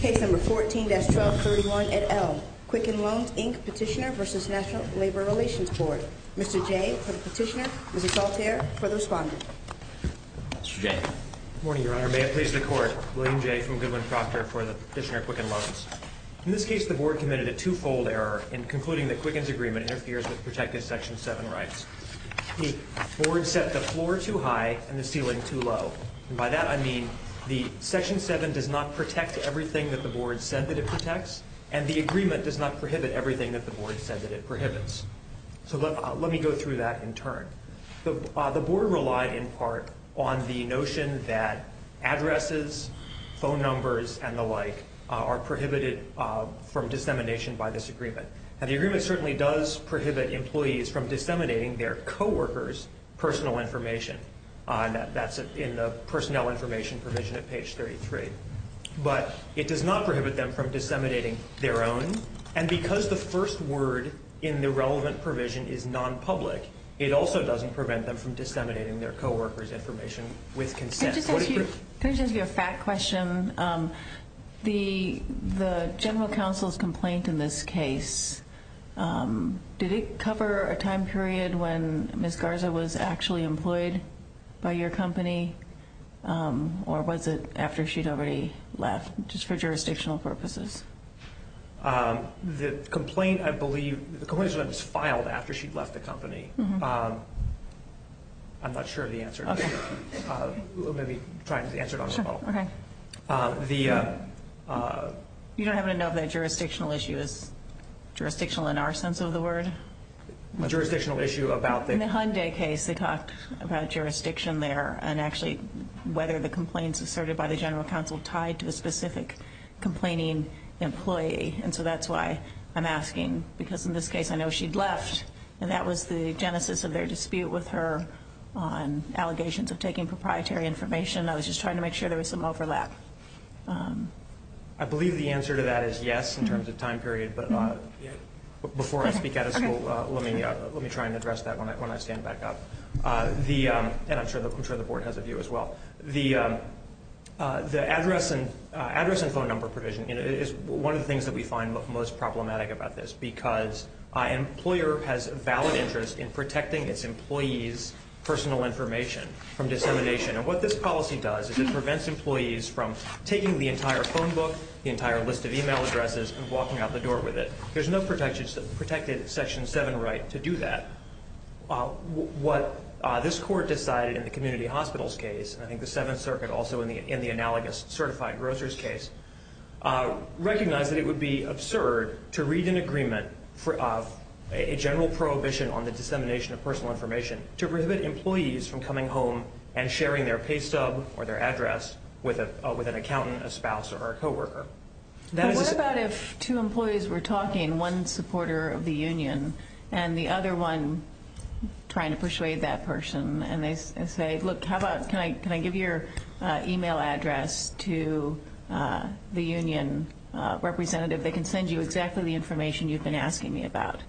Case No. 14-1231 at Elm, Quicken Loans, Inc. petitioner v. National Labor Relations Board. Mr. Jay for the petitioner, Mr. Salter for the responder. Mr. Jay. Good morning, Your Honor. May it please the Court, William Jay from Goodwin-Proctor for the petitioner, Quicken Loans. In this case, the Board committed a two-fold error in concluding that Quicken's agreement interferes with protected Section 7 rights. The Board set the floor too high and the ceiling too low. And by that, I mean the Section 7 does not protect everything that the Board said that it protects, and the agreement does not prohibit everything that the Board said that it prohibits. So let me go through that in turn. The Board relied in part on the notion that addresses, phone numbers, and the like are prohibited from dissemination by this agreement. And the agreement certainly does prohibit employees from disseminating their co-workers' personal information. That's in the personnel information provision at page 33. But it does not prohibit them from disseminating their own. And because the first word in the relevant provision is nonpublic, it also doesn't prevent them from disseminating their co-workers' information with consent. Can I just ask you a fact question? The general counsel's complaint in this case, did it cover a time period when Ms. Garza was actually employed by your company? Or was it after she'd already left, just for jurisdictional purposes? The complaint, I believe, the complaint was filed after she'd left the company. I'm not sure of the answer to that. We'll maybe try to answer it on the phone. You don't happen to know if that jurisdictional issue is jurisdictional in our sense of the word? A jurisdictional issue about the- In the Hyundai case, they talked about jurisdiction there and actually whether the complaints asserted by the general counsel tied to a specific complaining employee. And so that's why I'm asking. Because in this case, I know she'd left. And that was the genesis of their dispute with her on allegations of taking proprietary information. I was just trying to make sure there was some overlap. I believe the answer to that is yes, in terms of time period. But before I speak out of school, let me try and address that when I stand back up. And I'm sure the board has a view as well. The address and phone number provision is one of the things that we find most problematic about this because an employer has a valid interest in protecting its employees' personal information from dissemination. And what this policy does is it prevents employees from taking the entire phone book, the entire list of e-mail addresses, and walking out the door with it. There's no protected Section 7 right to do that. What this court decided in the community hospitals case, and I think the Seventh Circuit also in the analogous certified grocers case, recognized that it would be absurd to read an agreement of a general prohibition on the dissemination of personal information to prohibit employees from coming home and sharing their pay stub or their address with an accountant, a spouse, or a coworker. But what about if two employees were talking, one supporter of the union and the other one trying to persuade that person, and they say, look, can I give your e-mail address to the union representative? They can send you exactly the information you've been asking me about.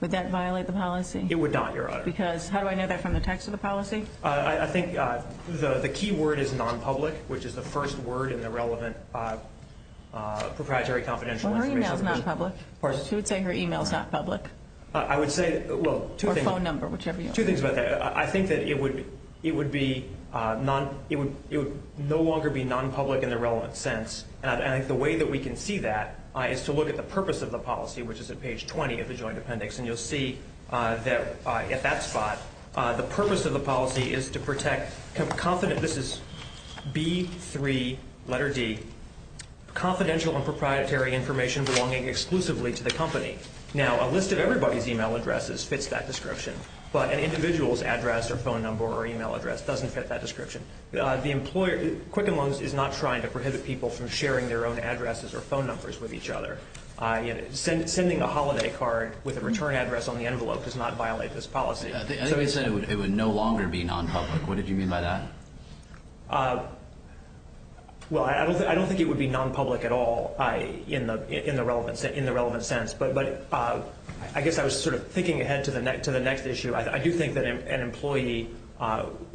Would that violate the policy? It would not, Your Honor. Because how do I know that from the text of the policy? I think the key word is nonpublic, which is the first word in the relevant proprietary confidential information. Well, her e-mail is nonpublic. Of course. Who would say her e-mail is not public? I would say, well, two things. Or phone number, whichever you want. Two things about that. I think that it would no longer be nonpublic in the relevant sense, and I think the way that we can see that is to look at the purpose of the policy, which is at page 20 of the joint appendix, and you'll see that at that spot, the purpose of the policy is to protect, this is B3, letter D, confidential and proprietary information belonging exclusively to the company. Now, a list of everybody's e-mail addresses fits that description, but an individual's address or phone number or e-mail address doesn't fit that description. Quicken Loans is not trying to prohibit people from sharing their own addresses or phone numbers with each other. Sending a holiday card with a return address on the envelope does not violate this policy. Somebody said it would no longer be nonpublic. What did you mean by that? Well, I don't think it would be nonpublic at all in the relevant sense, but I guess I was sort of thinking ahead to the next issue. I do think that an employee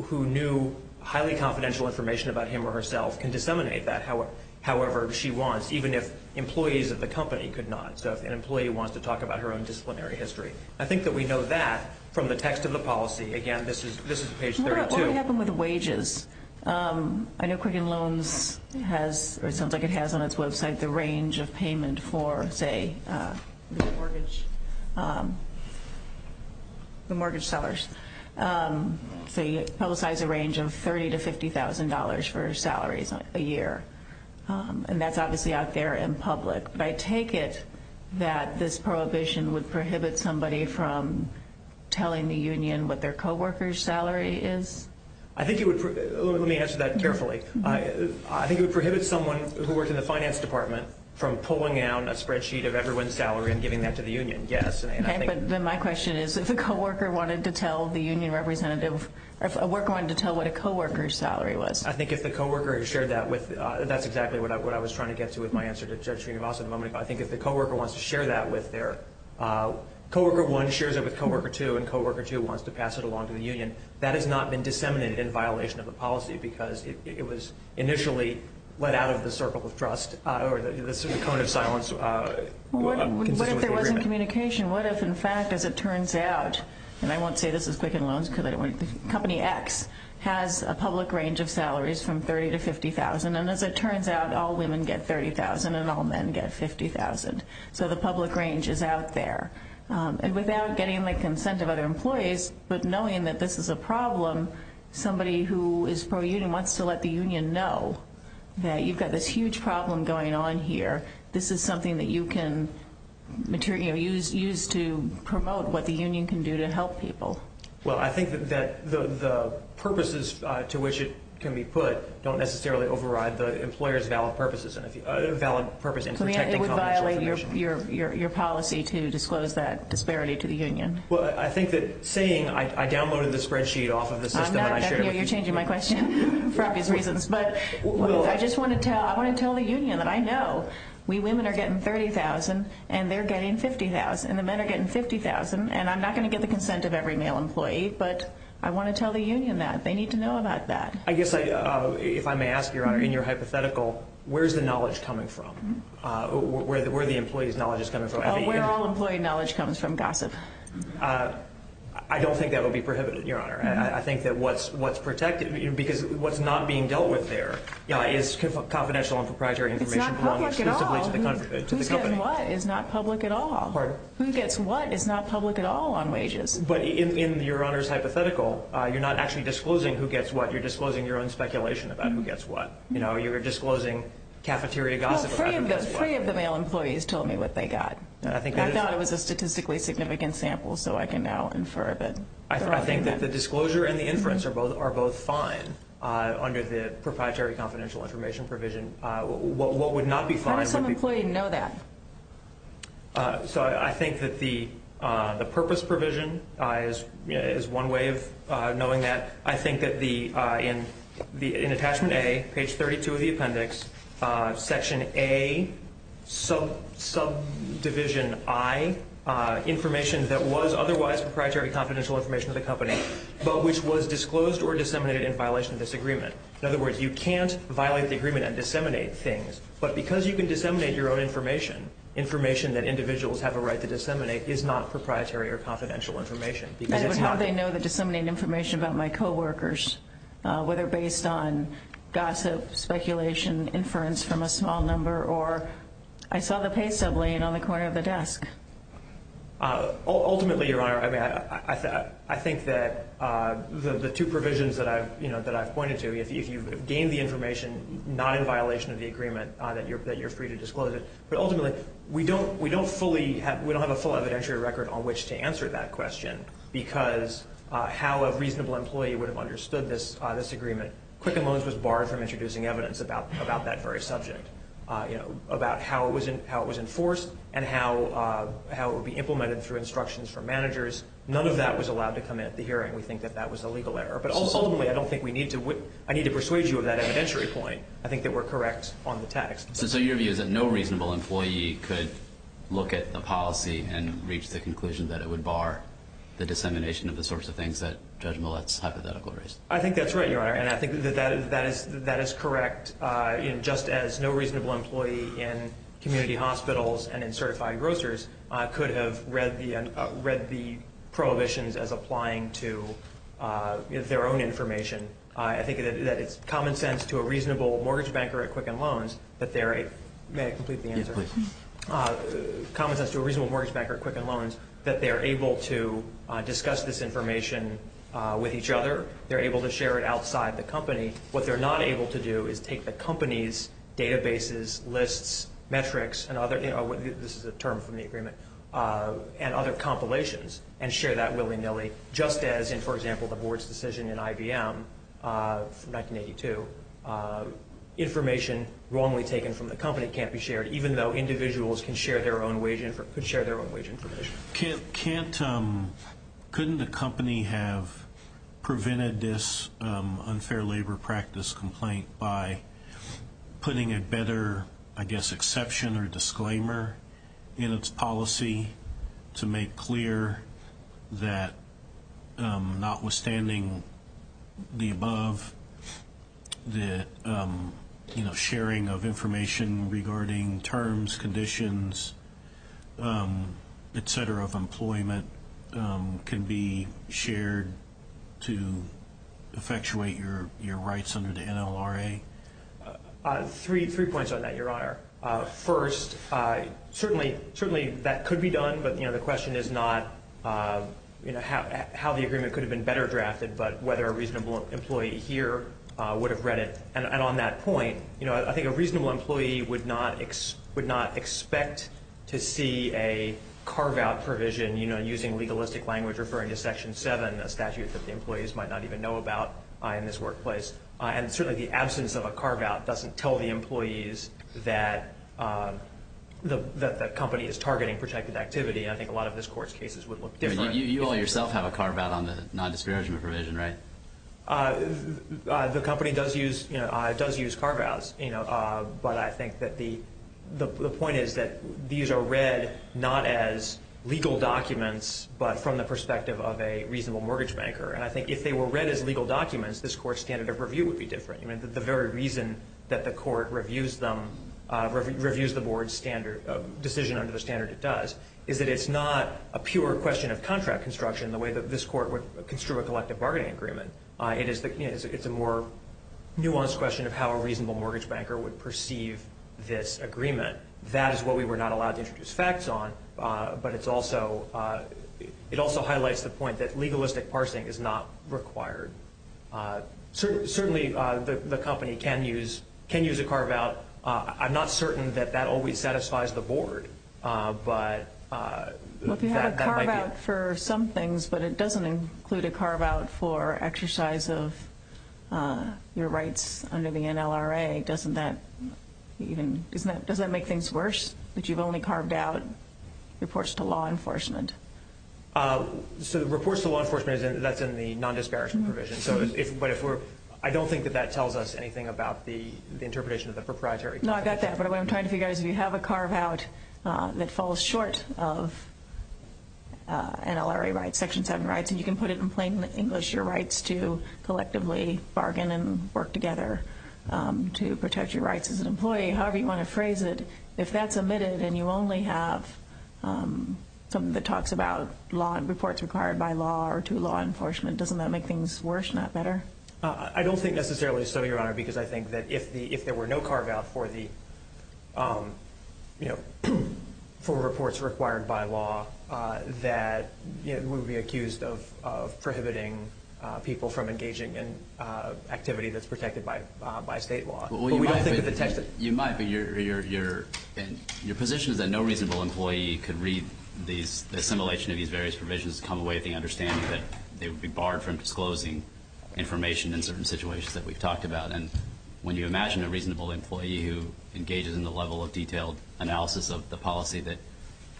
who knew highly confidential information about him or herself can disseminate that however she wants, even if employees of the company could not. So if an employee wants to talk about her own disciplinary history. I think that we know that from the text of the policy. Again, this is page 32. What would happen with wages? I know Quicken Loans has, or it sounds like it has on its website, the range of payment for, say, the mortgage sellers. So you publicize a range of $30,000 to $50,000 for salaries a year. And that's obviously out there in public. But I take it that this prohibition would prohibit somebody from telling the union what their co-worker's salary is? Let me answer that carefully. I think it would prohibit someone who worked in the finance department from pulling down a spreadsheet of everyone's salary and giving that to the union, yes. Okay, but then my question is, if a worker wanted to tell what a co-worker's salary was? I think if the co-worker shared that with – that's exactly what I was trying to get to with my answer to Judge Srinivasan a moment ago. I think if the co-worker wants to share that with their – co-worker one shares it with co-worker two, and co-worker two wants to pass it along to the union, that has not been disseminated in violation of the policy because it was initially let out of the circle of trust or the cone of silence. What if there wasn't communication? What if, in fact, as it turns out – and I won't say this is Quicken Loans because I don't want to – but company X has a public range of salaries from $30,000 to $50,000, and as it turns out, all women get $30,000 and all men get $50,000. So the public range is out there. And without getting the consent of other employees, but knowing that this is a problem, somebody who is pro-union wants to let the union know that you've got this huge problem going on here. This is something that you can use to promote what the union can do to help people. Well, I think that the purposes to which it can be put don't necessarily override the employer's valid purposes and if you – valid purpose in protecting – It would violate your policy to disclose that disparity to the union. Well, I think that saying – I downloaded the spreadsheet off of the system and I shared it with you. You're changing my question for obvious reasons. But I just want to tell – I want to tell the union that I know we women are getting $30,000 and they're getting $50,000 and the men are getting $50,000, and I'm not going to get the consent of every male employee, but I want to tell the union that. They need to know about that. I guess I – if I may ask, Your Honor, in your hypothetical, where is the knowledge coming from? Where are the employees' knowledge coming from? Where all employee knowledge comes from? Gossip. I don't think that would be prohibited, Your Honor. I think that what's protected – because what's not being dealt with there is confidential and proprietary information. It's not public at all. Who's getting what is not public at all. Pardon? Who gets what is not public at all on wages. But in Your Honor's hypothetical, you're not actually disclosing who gets what. You're disclosing your own speculation about who gets what. You know, you're disclosing cafeteria gossip about who gets what. Well, three of the male employees told me what they got. I thought it was a statistically significant sample, so I can now infer that. I think that the disclosure and the inference are both fine under the proprietary confidential information provision. What would not be fine would be – How does some employee know that? So I think that the purpose provision is one way of knowing that. I think that in attachment A, page 32 of the appendix, section A, subdivision I, information that was otherwise proprietary confidential information to the company, but which was disclosed or disseminated in violation of this agreement. In other words, you can't violate the agreement and disseminate things. But because you can disseminate your own information, information that individuals have a right to disseminate is not proprietary or confidential information. And how would they know to disseminate information about my coworkers, whether based on gossip, speculation, inference from a small number, or I saw the pay stub laying on the corner of the desk? Ultimately, Your Honor, I think that the two provisions that I've pointed to, if you've gained the information not in violation of the agreement, that you're free to disclose it. But ultimately, we don't have a full evidentiary record on which to answer that question because how a reasonable employee would have understood this agreement. Quicken Loans was barred from introducing evidence about that very subject, about how it was enforced and how it would be implemented through instructions from managers. None of that was allowed to come in at the hearing. We think that that was a legal error. But ultimately, I need to persuade you of that evidentiary point. I think that we're correct on the text. So your view is that no reasonable employee could look at the policy and reach the conclusion that it would bar the dissemination of the sorts of things that Judge Millett's hypothetical raised? I think that's right, Your Honor, and I think that that is correct, just as no reasonable employee in community hospitals and in certified grocers could have read the prohibitions as applying to their own information. I think that it's common sense to a reasonable mortgage banker at Quicken Loans that they're able to discuss this information with each other. They're able to share it outside the company. What they're not able to do is take the company's databases, lists, metrics, this is a term from the agreement, and other compilations and share that willy-nilly, just as in, for example, the board's decision in IBM from 1982. Information wrongly taken from the company can't be shared, even though individuals can share their own wage information. Judge, couldn't the company have prevented this unfair labor practice complaint by putting a better, I guess, exception or disclaimer in its policy to make clear that notwithstanding the above, that sharing of information regarding terms, conditions, et cetera, of employment can be shared to effectuate your rights under the NLRA? Three points on that, Your Honor. First, certainly that could be done, but the question is not how the agreement could have been better drafted, but whether a reasonable employee here would have read it. And on that point, you know, I think a reasonable employee would not expect to see a carve-out provision, you know, using legalistic language referring to Section 7, a statute that the employees might not even know about in this workplace. And certainly the absence of a carve-out doesn't tell the employees that the company is targeting protected activity. I think a lot of this Court's cases would look different. You all yourself have a carve-out on the non-discouragement provision, right? The company does use carve-outs, but I think that the point is that these are read not as legal documents, but from the perspective of a reasonable mortgage banker. And I think if they were read as legal documents, this Court's standard of review would be different. I mean, the very reason that the Court reviews the Board's decision under the standard it does is that it's not a pure question of contract construction the way that this Court would construe a collective bargaining agreement. It's a more nuanced question of how a reasonable mortgage banker would perceive this agreement. That is what we were not allowed to introduce facts on, but it also highlights the point that legalistic parsing is not required. Certainly the company can use a carve-out. I'm not certain that that always satisfies the Board, but that might be it. Well, if you have a carve-out for some things, but it doesn't include a carve-out for exercise of your rights under the NLRA, doesn't that make things worse that you've only carved out reports to law enforcement? So reports to law enforcement, that's in the non-disparaging provision. But I don't think that that tells us anything about the interpretation of the proprietary. No, I got that. But what I'm trying to figure out is if you have a carve-out that falls short of NLRA rights, Section 7 rights, and you can put it in plain English, your rights to collectively bargain and work together to protect your rights as an employee, however you want to phrase it, if that's omitted and you only have something that talks about reports required by law or to law enforcement, doesn't that make things worse, not better? I don't think necessarily so, Your Honor, because I think that if there were no carve-out for reports required by law, that we would be accused of prohibiting people from engaging in activity that's protected by state law. You might, but your position is that no reasonable employee could read the assimilation of these various provisions to come away with the understanding that they would be barred from disclosing information in certain situations that we've talked about. And when you imagine a reasonable employee who engages in the level of detailed analysis of the policy that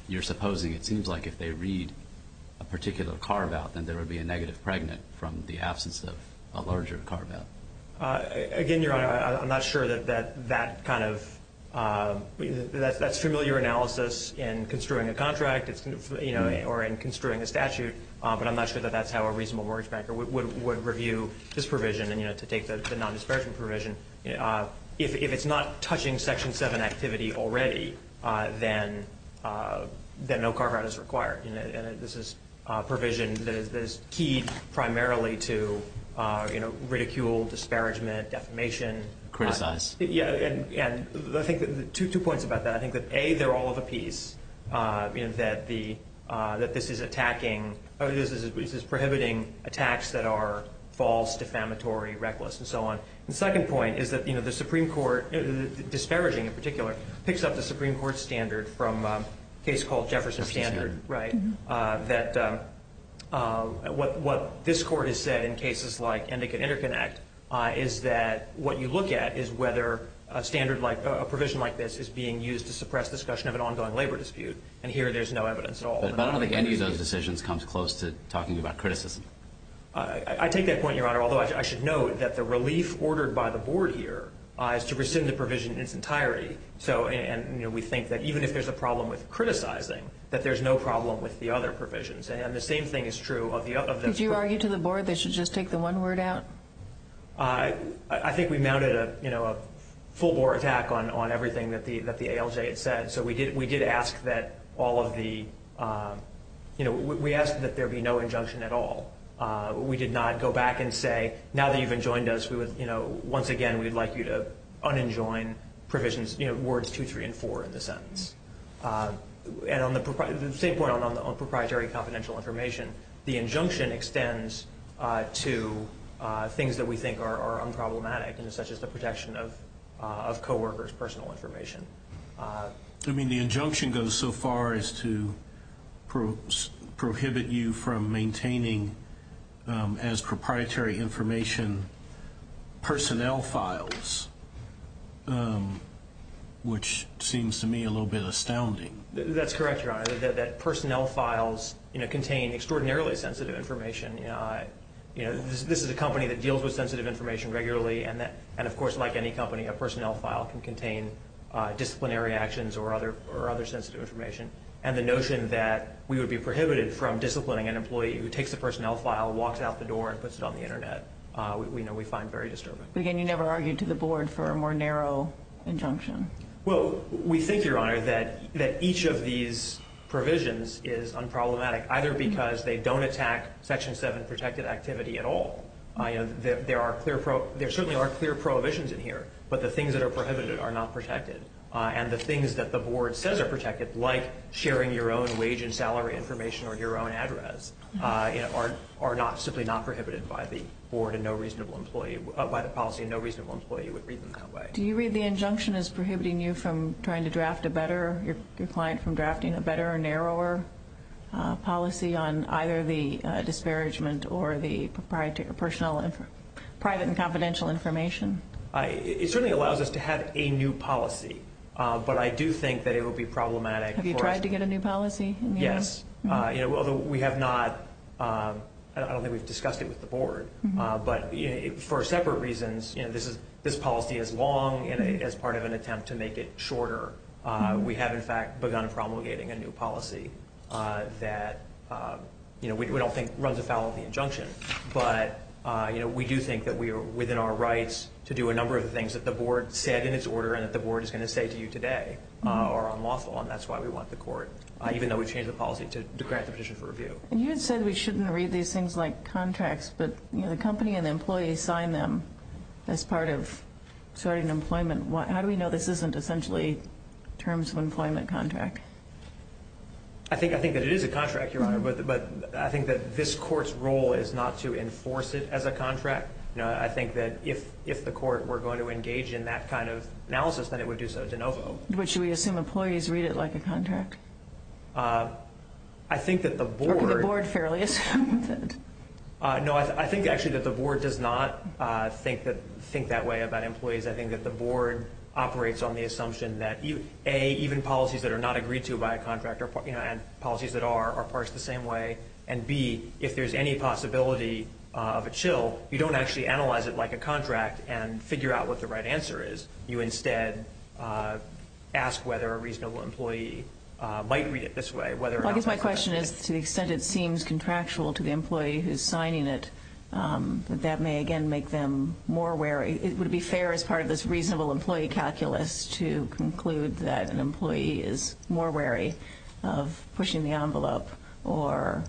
you're supposing, it seems like if they read a particular carve-out, then there would be a negative pregnant from the absence of a larger carve-out. Again, Your Honor, I'm not sure that that's familiar analysis in construing a contract or in construing a statute, but I'm not sure that that's how a reasonable mortgage banker would review this provision, to take the non-disparaging provision. If it's not touching Section 7 activity already, then no carve-out is required. And this is a provision that is key primarily to ridicule, disparagement, defamation. Criticize. Yeah, and I think two points about that. I think that, A, they're all of a piece, that this is attacking, this is prohibiting attacks that are false, defamatory, reckless, and so on. The second point is that the Supreme Court, disparaging in particular, picks up the Supreme Court standard from a case called Jefferson Standard, right? That what this Court has said in cases like Endicott-Interconnect is that what you look at is whether a standard like, a provision like this is being used to suppress discussion of an ongoing labor dispute, and here there's no evidence at all. But I don't think any of those decisions comes close to talking about criticism. I take that point, Your Honor, although I should note that the relief ordered by the Board here is to rescind the provision in its entirety. And we think that even if there's a problem with criticizing, that there's no problem with the other provisions. And the same thing is true of this Court. Did you argue to the Board they should just take the one word out? I think we mounted a full-blown attack on everything that the ALJ had said. So we did ask that all of the, you know, we asked that there be no injunction at all. We did not go back and say, now that you've enjoined us, we would, you know, once again, we'd like you to unenjoin provisions, you know, words two, three, and four in the sentence. And on the same point on proprietary confidential information, the injunction extends to things that we think are unproblematic, you know, such as the protection of coworkers' personal information. I mean, the injunction goes so far as to prohibit you from maintaining as proprietary information personnel files, which seems to me a little bit astounding. That's correct, Your Honor, that personnel files, you know, contain extraordinarily sensitive information. You know, this is a company that deals with sensitive information regularly, and of course, like any company, a personnel file can contain disciplinary actions or other sensitive information. And the notion that we would be prohibited from disciplining an employee who takes a personnel file, walks out the door, and puts it on the Internet, we know we find very disturbing. But again, you never argued to the Board for a more narrow injunction. Well, we think, Your Honor, that each of these provisions is unproblematic, either because they don't attack Section 7 protected activity at all. There certainly are clear prohibitions in here, but the things that are prohibited are not protected. And the things that the Board says are protected, like sharing your own wage and salary information or your own address, are simply not prohibited by the policy, and no reasonable employee would read them that way. Do you read the injunction as prohibiting you from trying to draft a better, your client from drafting a better or narrower policy on either the disparagement or the private and confidential information? It certainly allows us to have a new policy, but I do think that it would be problematic for us. Have you tried to get a new policy? Yes, although we have not. I don't think we've discussed it with the Board, but for separate reasons, this policy is long as part of an attempt to make it shorter. We have, in fact, begun promulgating a new policy that we don't think runs afoul of the injunction, but we do think that we are within our rights to do a number of the things that the Board said in its order and that the Board is going to say to you today are unlawful, and that's why we want the court, even though we've changed the policy to grant the petition for review. You had said we shouldn't read these things like contracts, but the company and the employee signed them as part of starting employment. How do we know this isn't essentially terms of employment contract? I think that it is a contract, Your Honor, but I think that this Court's role is not to enforce it as a contract. I think that if the Court were going to engage in that kind of analysis, then it would do so de novo. But should we assume employees read it like a contract? I think that the Board- Or could the Board fairly assume that? No, I think, actually, that the Board does not think that way about employees. I think that the Board operates on the assumption that, A, even policies that are not agreed to by a contract and policies that are are parsed the same way, and, B, if there's any possibility of a chill, you don't actually analyze it like a contract and figure out what the right answer is. You instead ask whether a reasonable employee might read it this way, whether or not- I guess my question is, to the extent it seems contractual to the employee who's signing it, that that may, again, make them more wary. Would it be fair, as part of this reasonable employee calculus, to conclude that an employee is more wary of pushing the envelope or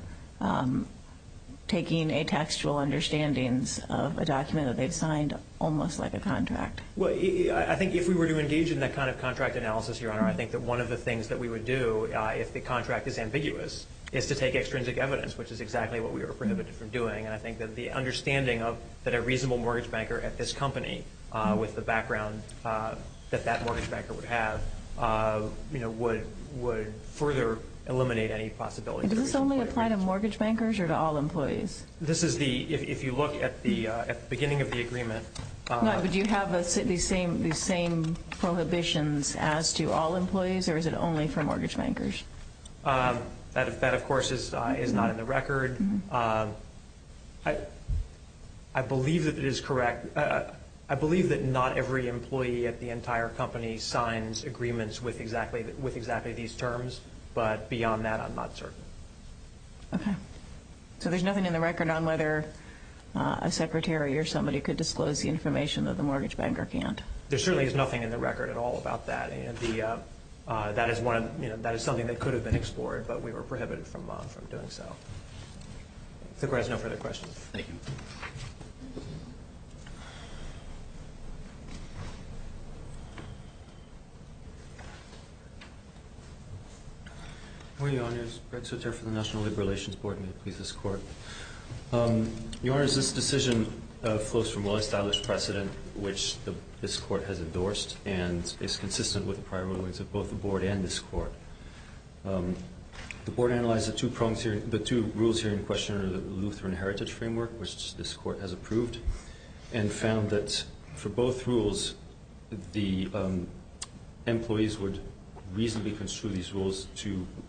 taking atextual understandings of a document that they've signed almost like a contract? Well, I think if we were to engage in that kind of contract analysis, Your Honor, I think that one of the things that we would do, if the contract is ambiguous, is to take extrinsic evidence, which is exactly what we were prohibited from doing. And I think that the understanding that a reasonable mortgage banker at this company, with the background that that mortgage banker would have, would further eliminate any possibility- Does this only apply to mortgage bankers or to all employees? This is the- if you look at the beginning of the agreement- No, but do you have these same prohibitions as to all employees, or is it only for mortgage bankers? That, of course, is not in the record. I believe that it is correct- I believe that not every employee at the entire company signs agreements with exactly these terms, but beyond that, I'm not certain. Okay. So there's nothing in the record on whether a secretary or somebody could disclose the information that the mortgage banker can't? There certainly is nothing in the record at all about that, and that is something that could have been explored, but we were prohibited from doing so. If the Court has no further questions. Thank you. Good morning, Your Honors. Greg Soter for the National Labor Relations Board, and may it please this Court. Your Honors, this decision flows from well-established precedent, which this Court has endorsed, and is consistent with the prior rulings of both the Board and this Court. The Board analyzed the two rules here in question under the Lutheran heritage framework, which this Court has approved, and found that for both rules, the employees would reasonably construe these rules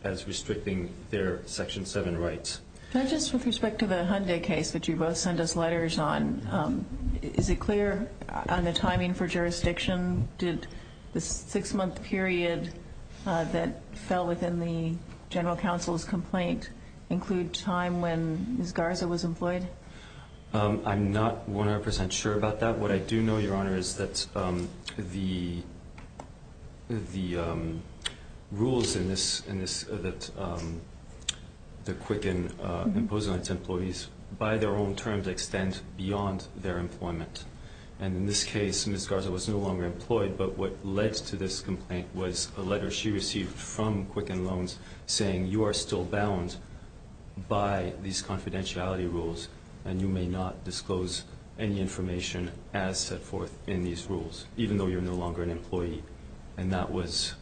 as restricting their Section 7 rights. Can I just, with respect to the Hyundai case that you both sent us letters on, is it clear on the timing for jurisdiction? Did the six-month period that fell within the General Counsel's complaint include time when Ms. Garza was employed? I'm not 100% sure about that. What I do know, Your Honor, is that the rules in this that the Quicken imposed on its employees, by their own terms, extend beyond their employment. And in this case, Ms. Garza was no longer employed, but what led to this complaint was a letter she received from Quicken Loans saying, you are still bound by these confidentiality rules, and you may not disclose any information as set forth in these rules, even though you're no longer an employee. And that was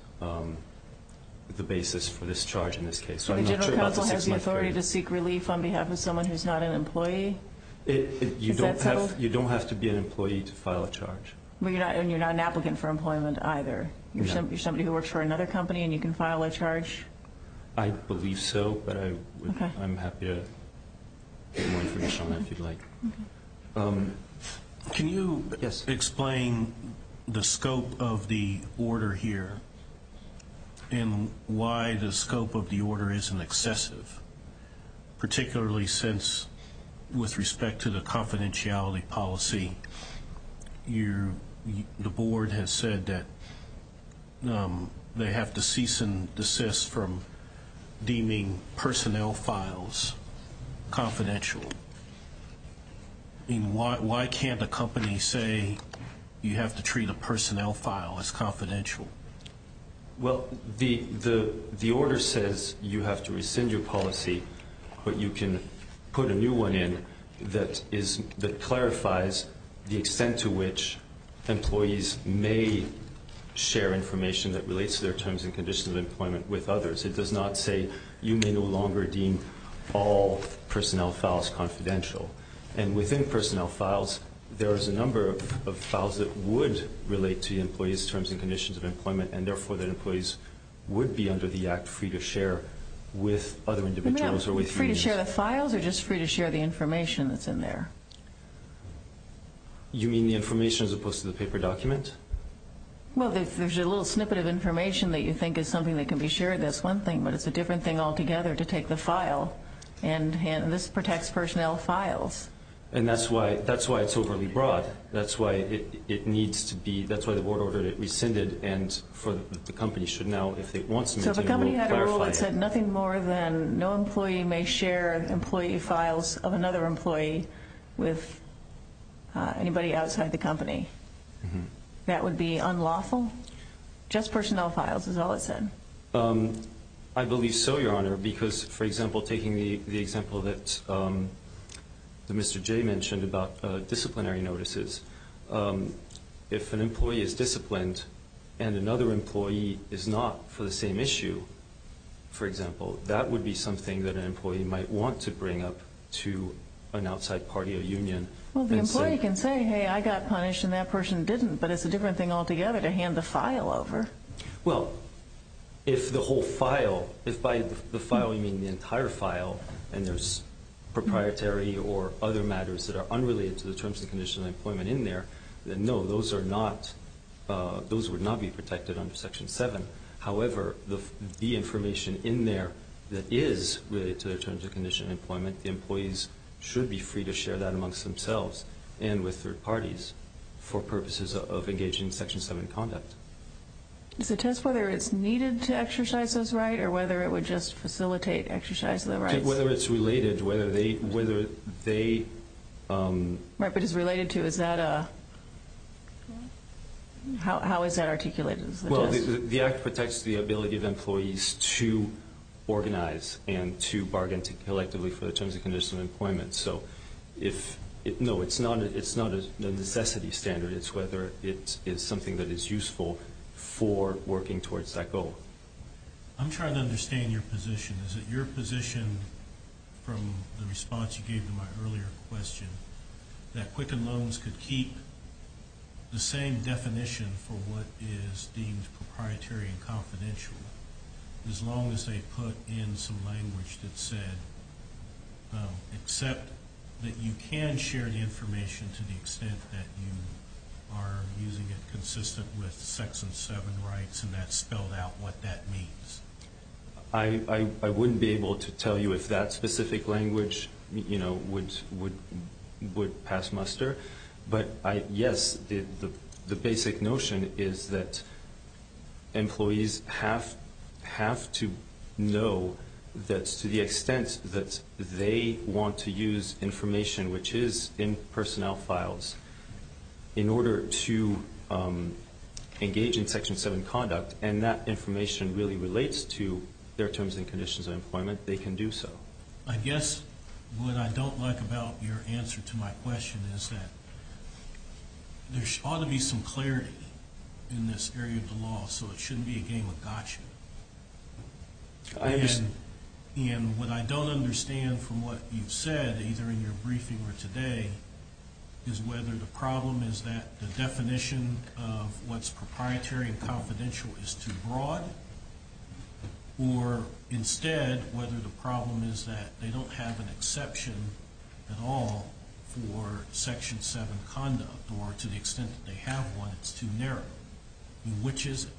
the basis for this charge in this case. So I'm not sure about the six-month period. So the General Counsel has the authority to seek relief on behalf of someone who's not an employee? Is that settled? You don't have to be an employee to file a charge. And you're not an applicant for employment either? No. You're somebody who works for another company and you can file a charge? I believe so, but I'm happy to get more information on that if you'd like. Can you explain the scope of the order here and why the scope of the order isn't excessive, particularly since, with respect to the confidentiality policy, the board has said that they have to cease and desist from deeming personnel files confidential. I mean, why can't a company say you have to treat a personnel file as confidential? Well, the order says you have to rescind your policy, but you can put a new one in that clarifies the extent to which employees may share information that relates to their terms and conditions of employment with others. It does not say you may no longer deem all personnel files confidential. And within personnel files, there is a number of files that would relate to the employee's terms and conditions of employment, and therefore that employees would be under the act free to share with other individuals or with unions. Free to share the files or just free to share the information that's in there? You mean the information as opposed to the paper document? Well, there's a little snippet of information that you think is something that can be shared. That's one thing, but it's a different thing altogether to take the file. And this protects personnel files. And that's why it's overly broad. That's why it needs to be, that's why the board ordered it rescinded, and for the company should now, if it wants to maintain a rule, clarify it. So if a company had a rule that said nothing more than no employee may share employee files of another employee with anybody outside the company, that would be unlawful? Just personnel files is all it said. I believe so, Your Honor, because, for example, taking the example that Mr. Jay mentioned about disciplinary notices, if an employee is disciplined and another employee is not for the same issue, for example, that would be something that an employee might want to bring up to an outside party or union. Well, the employee can say, hey, I got punished and that person didn't, but it's a different thing altogether to hand the file over. Well, if the whole file, if by the file you mean the entire file, and there's proprietary or other matters that are unrelated to the terms and conditions of employment in there, then no, those are not, those would not be protected under Section 7. However, the information in there that is related to the terms and conditions of employment, the employees should be free to share that amongst themselves and with third parties for purposes of engaging in Section 7 conduct. Does it test whether it's needed to exercise those rights or whether it would just facilitate exercise of the rights? Whether it's related, whether they – Right, but it's related to, is that a – how is that articulated? Well, the Act protects the ability of employees to organize No, it's not a necessity standard. It's whether it is something that is useful for working towards that goal. I'm trying to understand your position. Is it your position from the response you gave to my earlier question that Quicken Loans could keep the same definition for what is deemed proprietary and confidential as long as they put in some language that said, except that you can share the information to the extent that you are using it consistent with Section 7 rights and that's spelled out what that means? I wouldn't be able to tell you if that specific language, you know, would pass muster, but yes, the basic notion is that employees have to know that to the extent that they want to use information which is in personnel files in order to engage in Section 7 conduct and that information really relates to their terms and conditions of employment, they can do so. I guess what I don't like about your answer to my question is that there ought to be some clarity in this area of the law so it shouldn't be a game of gotcha. And what I don't understand from what you've said, either in your briefing or today, is whether the problem is that the definition of what's proprietary and confidential is too broad or instead whether the problem is that they don't have an exception at all for Section 7 conduct or to the extent that they have one, it's too narrow. Which is it?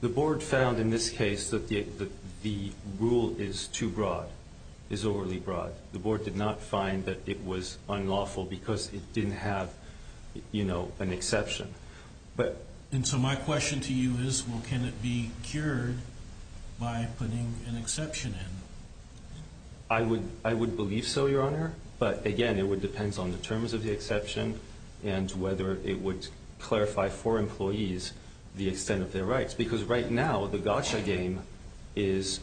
The Board found in this case that the rule is too broad, is overly broad. The Board did not find that it was unlawful because it didn't have, you know, an exception. And so my question to you is, well, can it be cured by putting an exception in? I would believe so, Your Honor, but again, it depends on the terms of the exception and whether it would clarify for employees the extent of their rights because right now the gotcha game is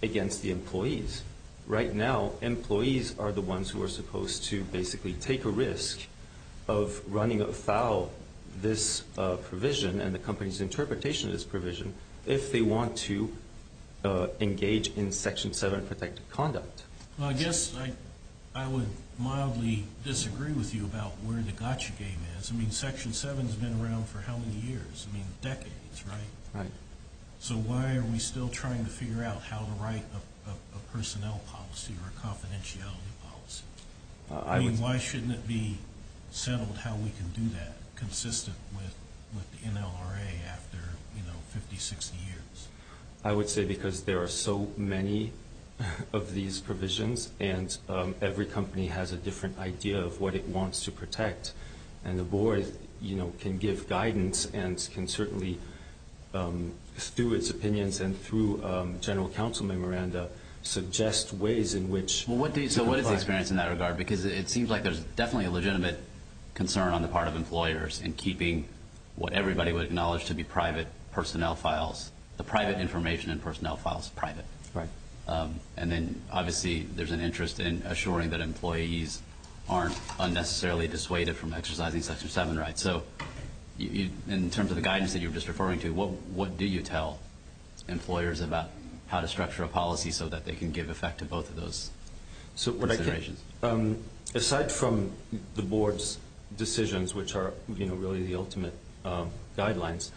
against the employees. Right now, employees are the ones who are supposed to basically take a risk of running afoul this provision and the company's interpretation of this provision if they want to engage in Section 7 protected conduct. Well, I guess I would mildly disagree with you about where the gotcha game is. I mean, Section 7 has been around for how many years? I mean, decades, right? Right. So why are we still trying to figure out how to write a personnel policy or a confidentiality policy? I mean, why shouldn't it be settled how we can do that consistent with the NLRA after, you know, 50, 60 years? I would say because there are so many of these provisions and every company has a different idea of what it wants to protect. And the board, you know, can give guidance and can certainly, through its opinions and through general counsel memoranda, suggest ways in which to clarify. So what is the experience in that regard? Because it seems like there's definitely a legitimate concern on the part of employers in keeping what everybody would acknowledge to be private personnel files, the private information and personnel files private. Right. And then, obviously, there's an interest in assuring that employees aren't unnecessarily dissuaded from exercising Section 7 rights. So in terms of the guidance that you were just referring to, what do you tell employers about how to structure a policy so that they can give effect to both of those considerations? Aside from the board's decisions, which are, you know, really the ultimate guidelines,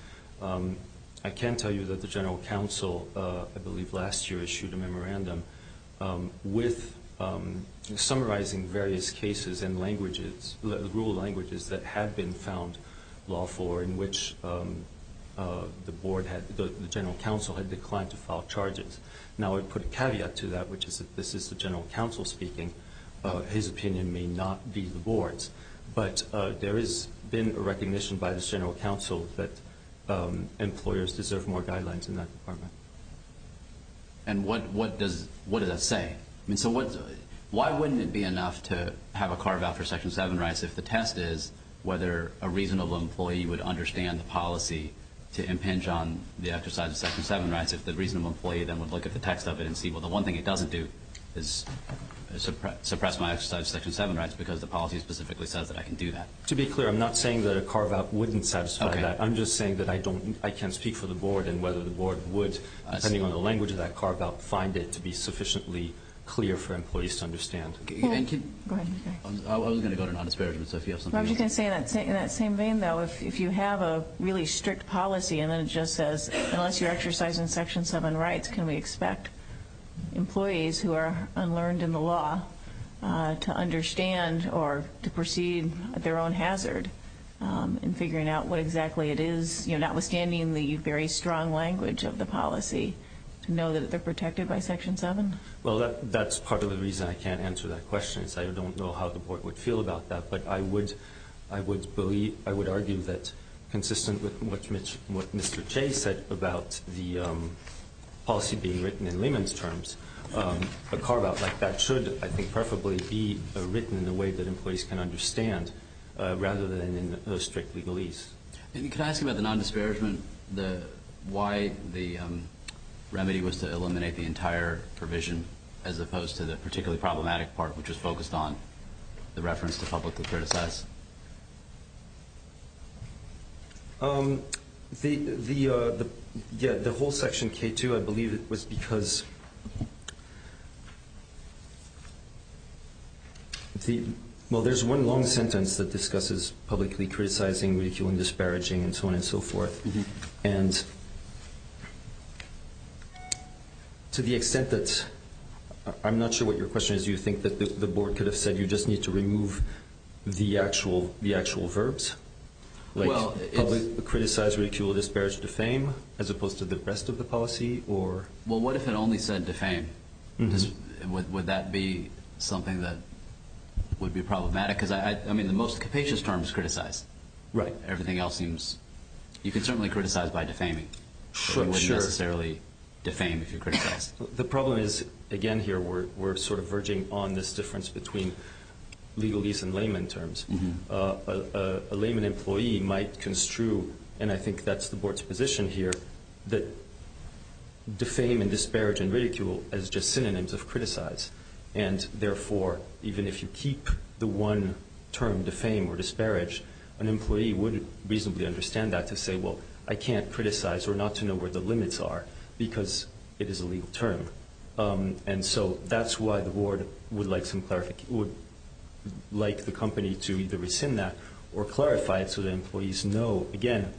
I can tell you that the general counsel I believe last year issued a memorandum with summarizing various cases and languages, rural languages that had been found lawful or in which the board had, the general counsel had declined to file charges. Now I would put a caveat to that, which is that this is the general counsel speaking. His opinion may not be the board's. But there has been a recognition by this general counsel that employers deserve more guidelines in that department. And what does that say? I mean, so why wouldn't it be enough to have a carve-out for Section 7 rights if the test is whether a reasonable employee would understand the policy to impinge on the exercise of Section 7 rights if the reasonable employee then would look at the text of it and see, well, the one thing it doesn't do is suppress my exercise of Section 7 rights because the policy specifically says that I can do that. To be clear, I'm not saying that a carve-out wouldn't satisfy that. I'm just saying that I can't speak for the board and whether the board would, depending on the language of that carve-out, find it to be sufficiently clear for employees to understand. Go ahead. I was going to go to non-disparagement, so if you have something else. I was just going to say in that same vein, though, if you have a really strict policy and then it just says unless you exercise Section 7 rights, can we expect employees who are unlearned in the law to understand or to perceive their own hazard in figuring out what exactly it is, notwithstanding the very strong language of the policy, to know that they're protected by Section 7? Well, that's part of the reason I can't answer that question is I don't know how the board would feel about that, but I would argue that consistent with what Mr. Chase said about the policy being written in layman's terms, a carve-out like that should, I think, preferably be written in a way that employees can understand rather than in a strict legalese. Can I ask you about the non-disparagement, why the remedy was to eliminate the entire provision as opposed to the particularly problematic part, which was focused on the reference to publicly criticize? The whole Section K-2, I believe it was because... Well, there's one long sentence that discusses publicly criticizing, ridiculing, disparaging, and so on and so forth, and to the extent that... I'm not sure what your question is. Do you think that the board could have said you just need to remove the actual verbs, like publicly criticize, ridicule, disparage, defame, as opposed to the rest of the policy? Well, what if it only said defame? Would that be something that would be problematic? I mean, the most capacious term is criticize. Right. Everything else seems... You can certainly criticize by defaming, but you wouldn't necessarily defame if you criticize. The problem is, again, here we're sort of verging on this difference between legalese and layman terms. A layman employee might construe, and I think that's the board's position here, that defame and disparage and ridicule as just synonyms of criticize, and, therefore, even if you keep the one term, defame or disparage, an employee would reasonably understand that to say, well, I can't criticize or not to know where the limits are, because it is a legal term, and so that's why the board would like the company to either rescind that or clarify it so that employees know, again,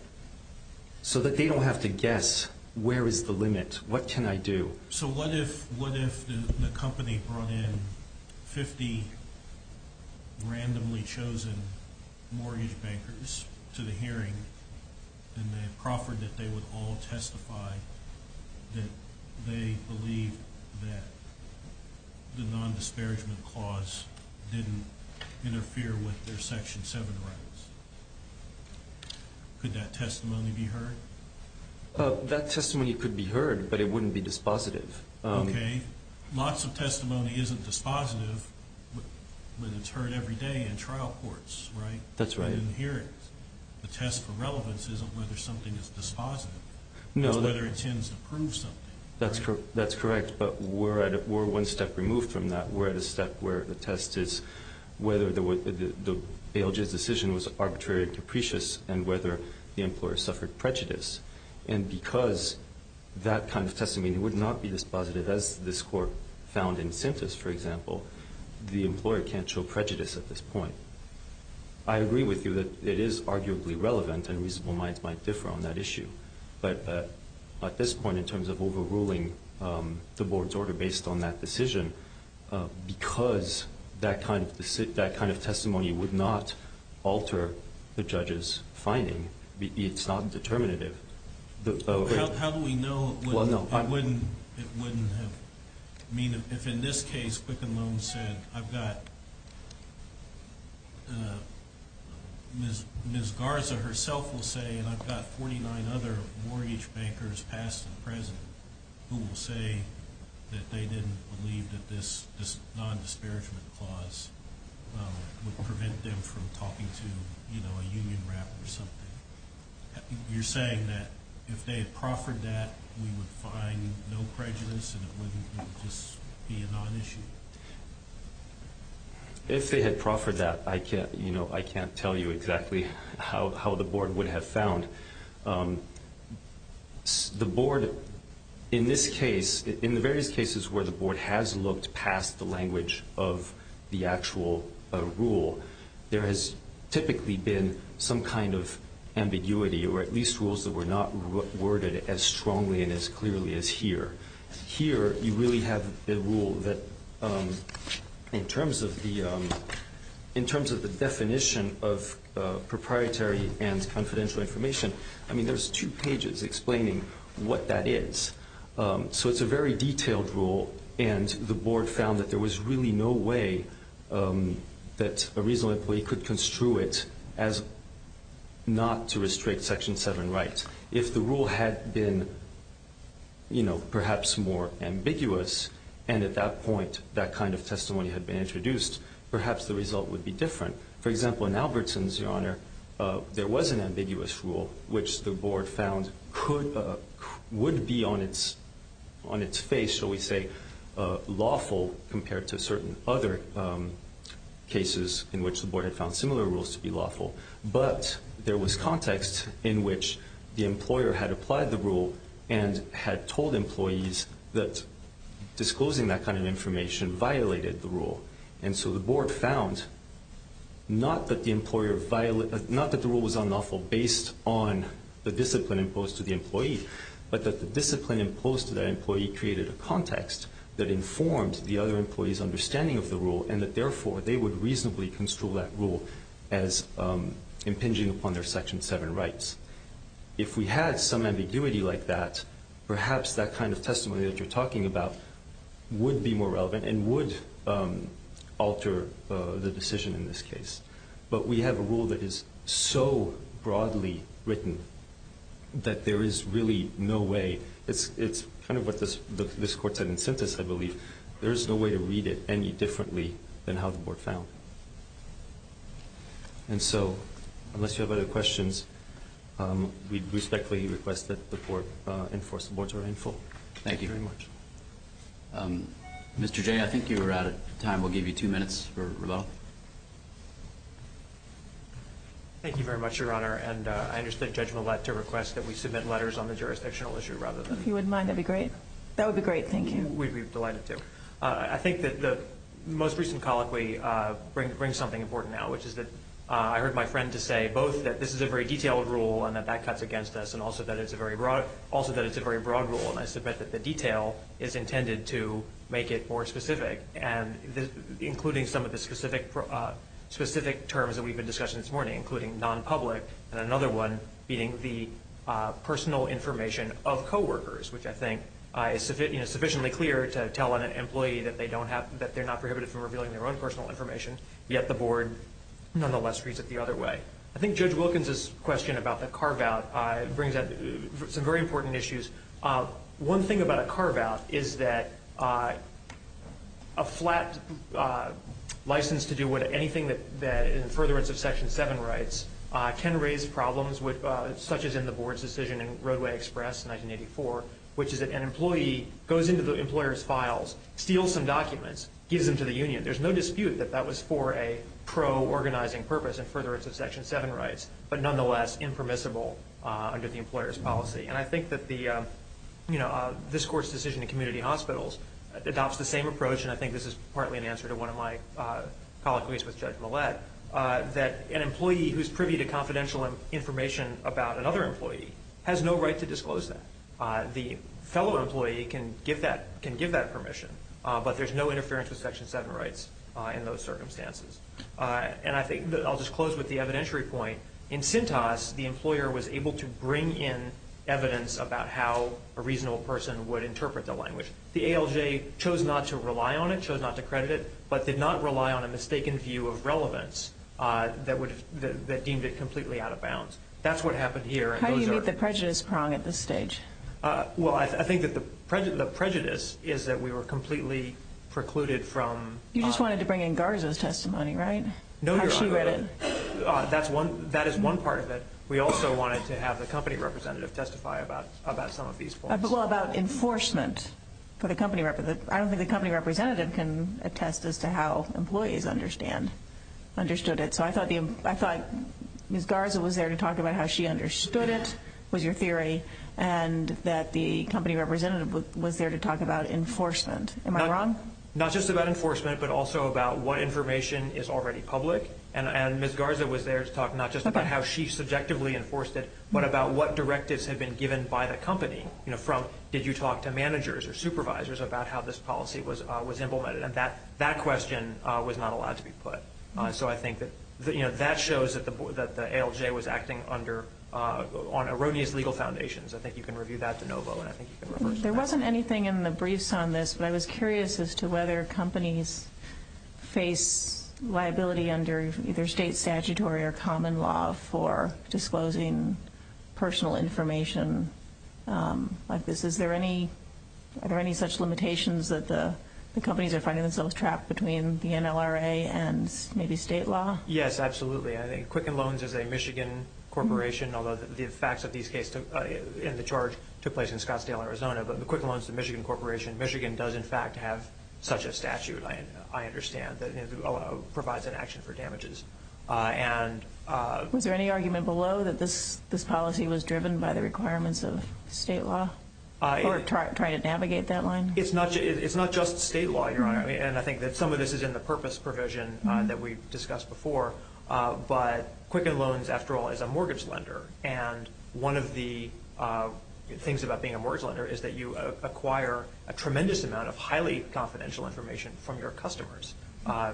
so that they don't have to guess, where is the limit? What can I do? So what if the company brought in 50 randomly chosen mortgage bankers to the hearing and they proffered that they would all testify that they believe that the non-disparagement clause didn't interfere with their Section 7 rights? Could that testimony be heard? That testimony could be heard, but it wouldn't be dispositive. Okay. Lots of testimony isn't dispositive when it's heard every day in trial courts, right? That's right. In hearings. The test for relevance isn't whether something is dispositive. No. It's whether it tends to prove something. That's correct, but we're one step removed from that. We're at a step where the test is whether the ALJ's decision was arbitrary or capricious and whether the employer suffered prejudice. And because that kind of testimony would not be dispositive, as this Court found in Simtas, for example, the employer can't show prejudice at this point. I agree with you that it is arguably relevant and reasonable minds might differ on that issue. But at this point, in terms of overruling the Board's order based on that decision, because that kind of testimony would not alter the judge's finding, it's not determinative. How do we know it wouldn't have? I mean, if in this case Quicken Loan said, I've got Ms. Garza herself will say, and I've got 49 other mortgage bankers past and present who will say that they didn't believe that this non-disparagement clause would prevent them from talking to a union rep or something. You're saying that if they had proffered that, we would find no prejudice and it wouldn't just be a non-issue? If they had proffered that, I can't tell you exactly how the Board would have found. The Board, in this case, in the various cases where the Board has looked past the language of the actual rule, there has typically been some kind of ambiguity or at least rules that were not worded as strongly and as clearly as here. Here, you really have a rule that, in terms of the definition of proprietary and confidential information, I mean, there's two pages explaining what that is. So it's a very detailed rule, and the Board found that there was really no way that a reasonable employee could construe it as not to restrict Section 7 rights. If the rule had been perhaps more ambiguous and at that point that kind of testimony had been introduced, perhaps the result would be different. For example, in Albertson's, Your Honor, there was an ambiguous rule which the Board found would be on its face, shall we say, lawful compared to certain other cases in which the Board had found similar rules to be lawful. But there was context in which the employer had applied the rule and had told employees that disclosing that kind of information violated the rule. And so the Board found not that the rule was unlawful based on the discipline imposed to the employee, but that the discipline imposed to that employee created a context that informed the other employee's understanding of the rule and that therefore they would reasonably construe that rule as impinging upon their Section 7 rights. If we had some ambiguity like that, perhaps that kind of testimony that you're talking about would be more relevant and would alter the decision in this case. But we have a rule that is so broadly written that there is really no way. It's kind of what this Court said in sentence, I believe. There is no way to read it any differently than how the Board found. And so unless you have other questions, we respectfully request that the Court enforce the Board's order in full. Thank you very much. Mr. Jay, I think you're out of time. We'll give you two minutes for rebuttal. Thank you very much, Your Honor. And I understand Judge Millette to request that we submit letters on the jurisdictional issue rather than... If you wouldn't mind, that would be great. That would be great. Thank you. We'd be delighted to. I think that the most recent colloquy brings something important out, which is that I heard my friend to say both that this is a very detailed rule and that that cuts against us and also that it's a very broad rule, and I submit that the detail is intended to make it more specific, including some of the specific terms that we've been discussing this morning, including non-public and another one being the personal information of coworkers, which I think is sufficiently clear to tell an employee that they're not prohibited from revealing their own personal information, yet the Board nonetheless reads it the other way. I think Judge Wilkins's question about the carve-out brings up some very important issues. One thing about a carve-out is that a flat license to do anything that is in furtherance of Section 7 rights can raise problems, such as in the Board's decision in Roadway Express 1984, which is that an employee goes into the employer's files, steals some documents, gives them to the union. There's no dispute that that was for a pro-organizing purpose in furtherance of Section 7 rights, but nonetheless impermissible under the employer's policy. And I think that this Court's decision in Community Hospitals adopts the same approach, and I think this is partly an answer to one of my colloquies with Judge Millett, that an employee who's privy to confidential information about another employee has no right to disclose that. The fellow employee can give that permission, but there's no interference with Section 7 rights in those circumstances. And I think that I'll just close with the evidentiary point. In Cintas, the employer was able to bring in evidence about how a reasonable person would interpret the language. The ALJ chose not to rely on it, chose not to credit it, but did not rely on a mistaken view of relevance that deemed it completely out of bounds. That's what happened here. How do you meet the prejudice prong at this stage? Well, I think that the prejudice is that we were completely precluded from... You just wanted to bring in Garza's testimony, right? No, Your Honor. How she read it. That is one part of it. We also wanted to have the company representative testify about some of these points. Well, about enforcement for the company representative. I don't think the company representative can attest as to how employees understood it. So I thought Ms. Garza was there to talk about how she understood it, was your theory, and that the company representative was there to talk about enforcement. Am I wrong? Not just about enforcement, but also about what information is already public. And Ms. Garza was there to talk not just about how she subjectively enforced it, but about what directives had been given by the company, from did you talk to managers or supervisors about how this policy was implemented. And that question was not allowed to be put. So I think that shows that the ALJ was acting on erroneous legal foundations. I think you can review that, DeNovo, and I think you can reverse that. There wasn't anything in the briefs on this, but I was curious as to whether companies face liability under either state statutory or common law for disclosing personal information like this. Are there any such limitations that the companies are finding themselves trapped between the NLRA and maybe state law? Yes, absolutely. Quicken Loans is a Michigan corporation, although the facts of these cases Quicken Loans is a Michigan corporation. Michigan does, in fact, have such a statute, I understand, that provides an action for damages. Was there any argument below that this policy was driven by the requirements of state law or trying to navigate that line? It's not just state law, Your Honor, and I think that some of this is in the purpose provision that we discussed before. But Quicken Loans, after all, is a mortgage lender, and one of the things about being a mortgage lender is that you acquire a tremendous amount of highly confidential information from your customers,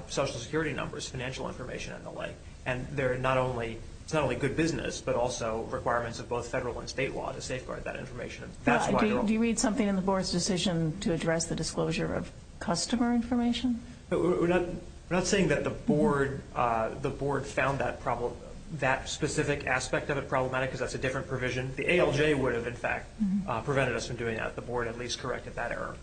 social security numbers, financial information, and the like. And it's not only good business, but also requirements of both federal and state law to safeguard that information. Do you read something in the board's decision to address the disclosure of customer information? We're not saying that the board found that specific aspect of it problematic because that's a different provision. The ALJ would have, in fact, prevented us from doing that. The board at least corrected that error.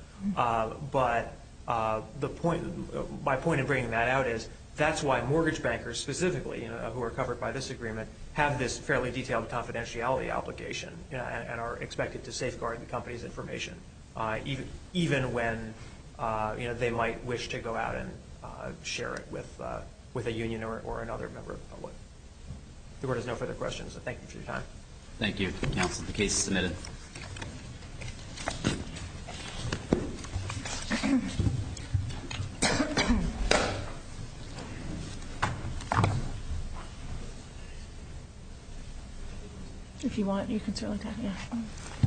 But my point in bringing that out is that's why mortgage bankers specifically, who are covered by this agreement, have this fairly detailed confidentiality obligation and are expected to safeguard the company's information, even when they might wish to go out and share it with a union or another member of the public. The board has no further questions, so thank you for your time. Thank you, counsel. The case is submitted.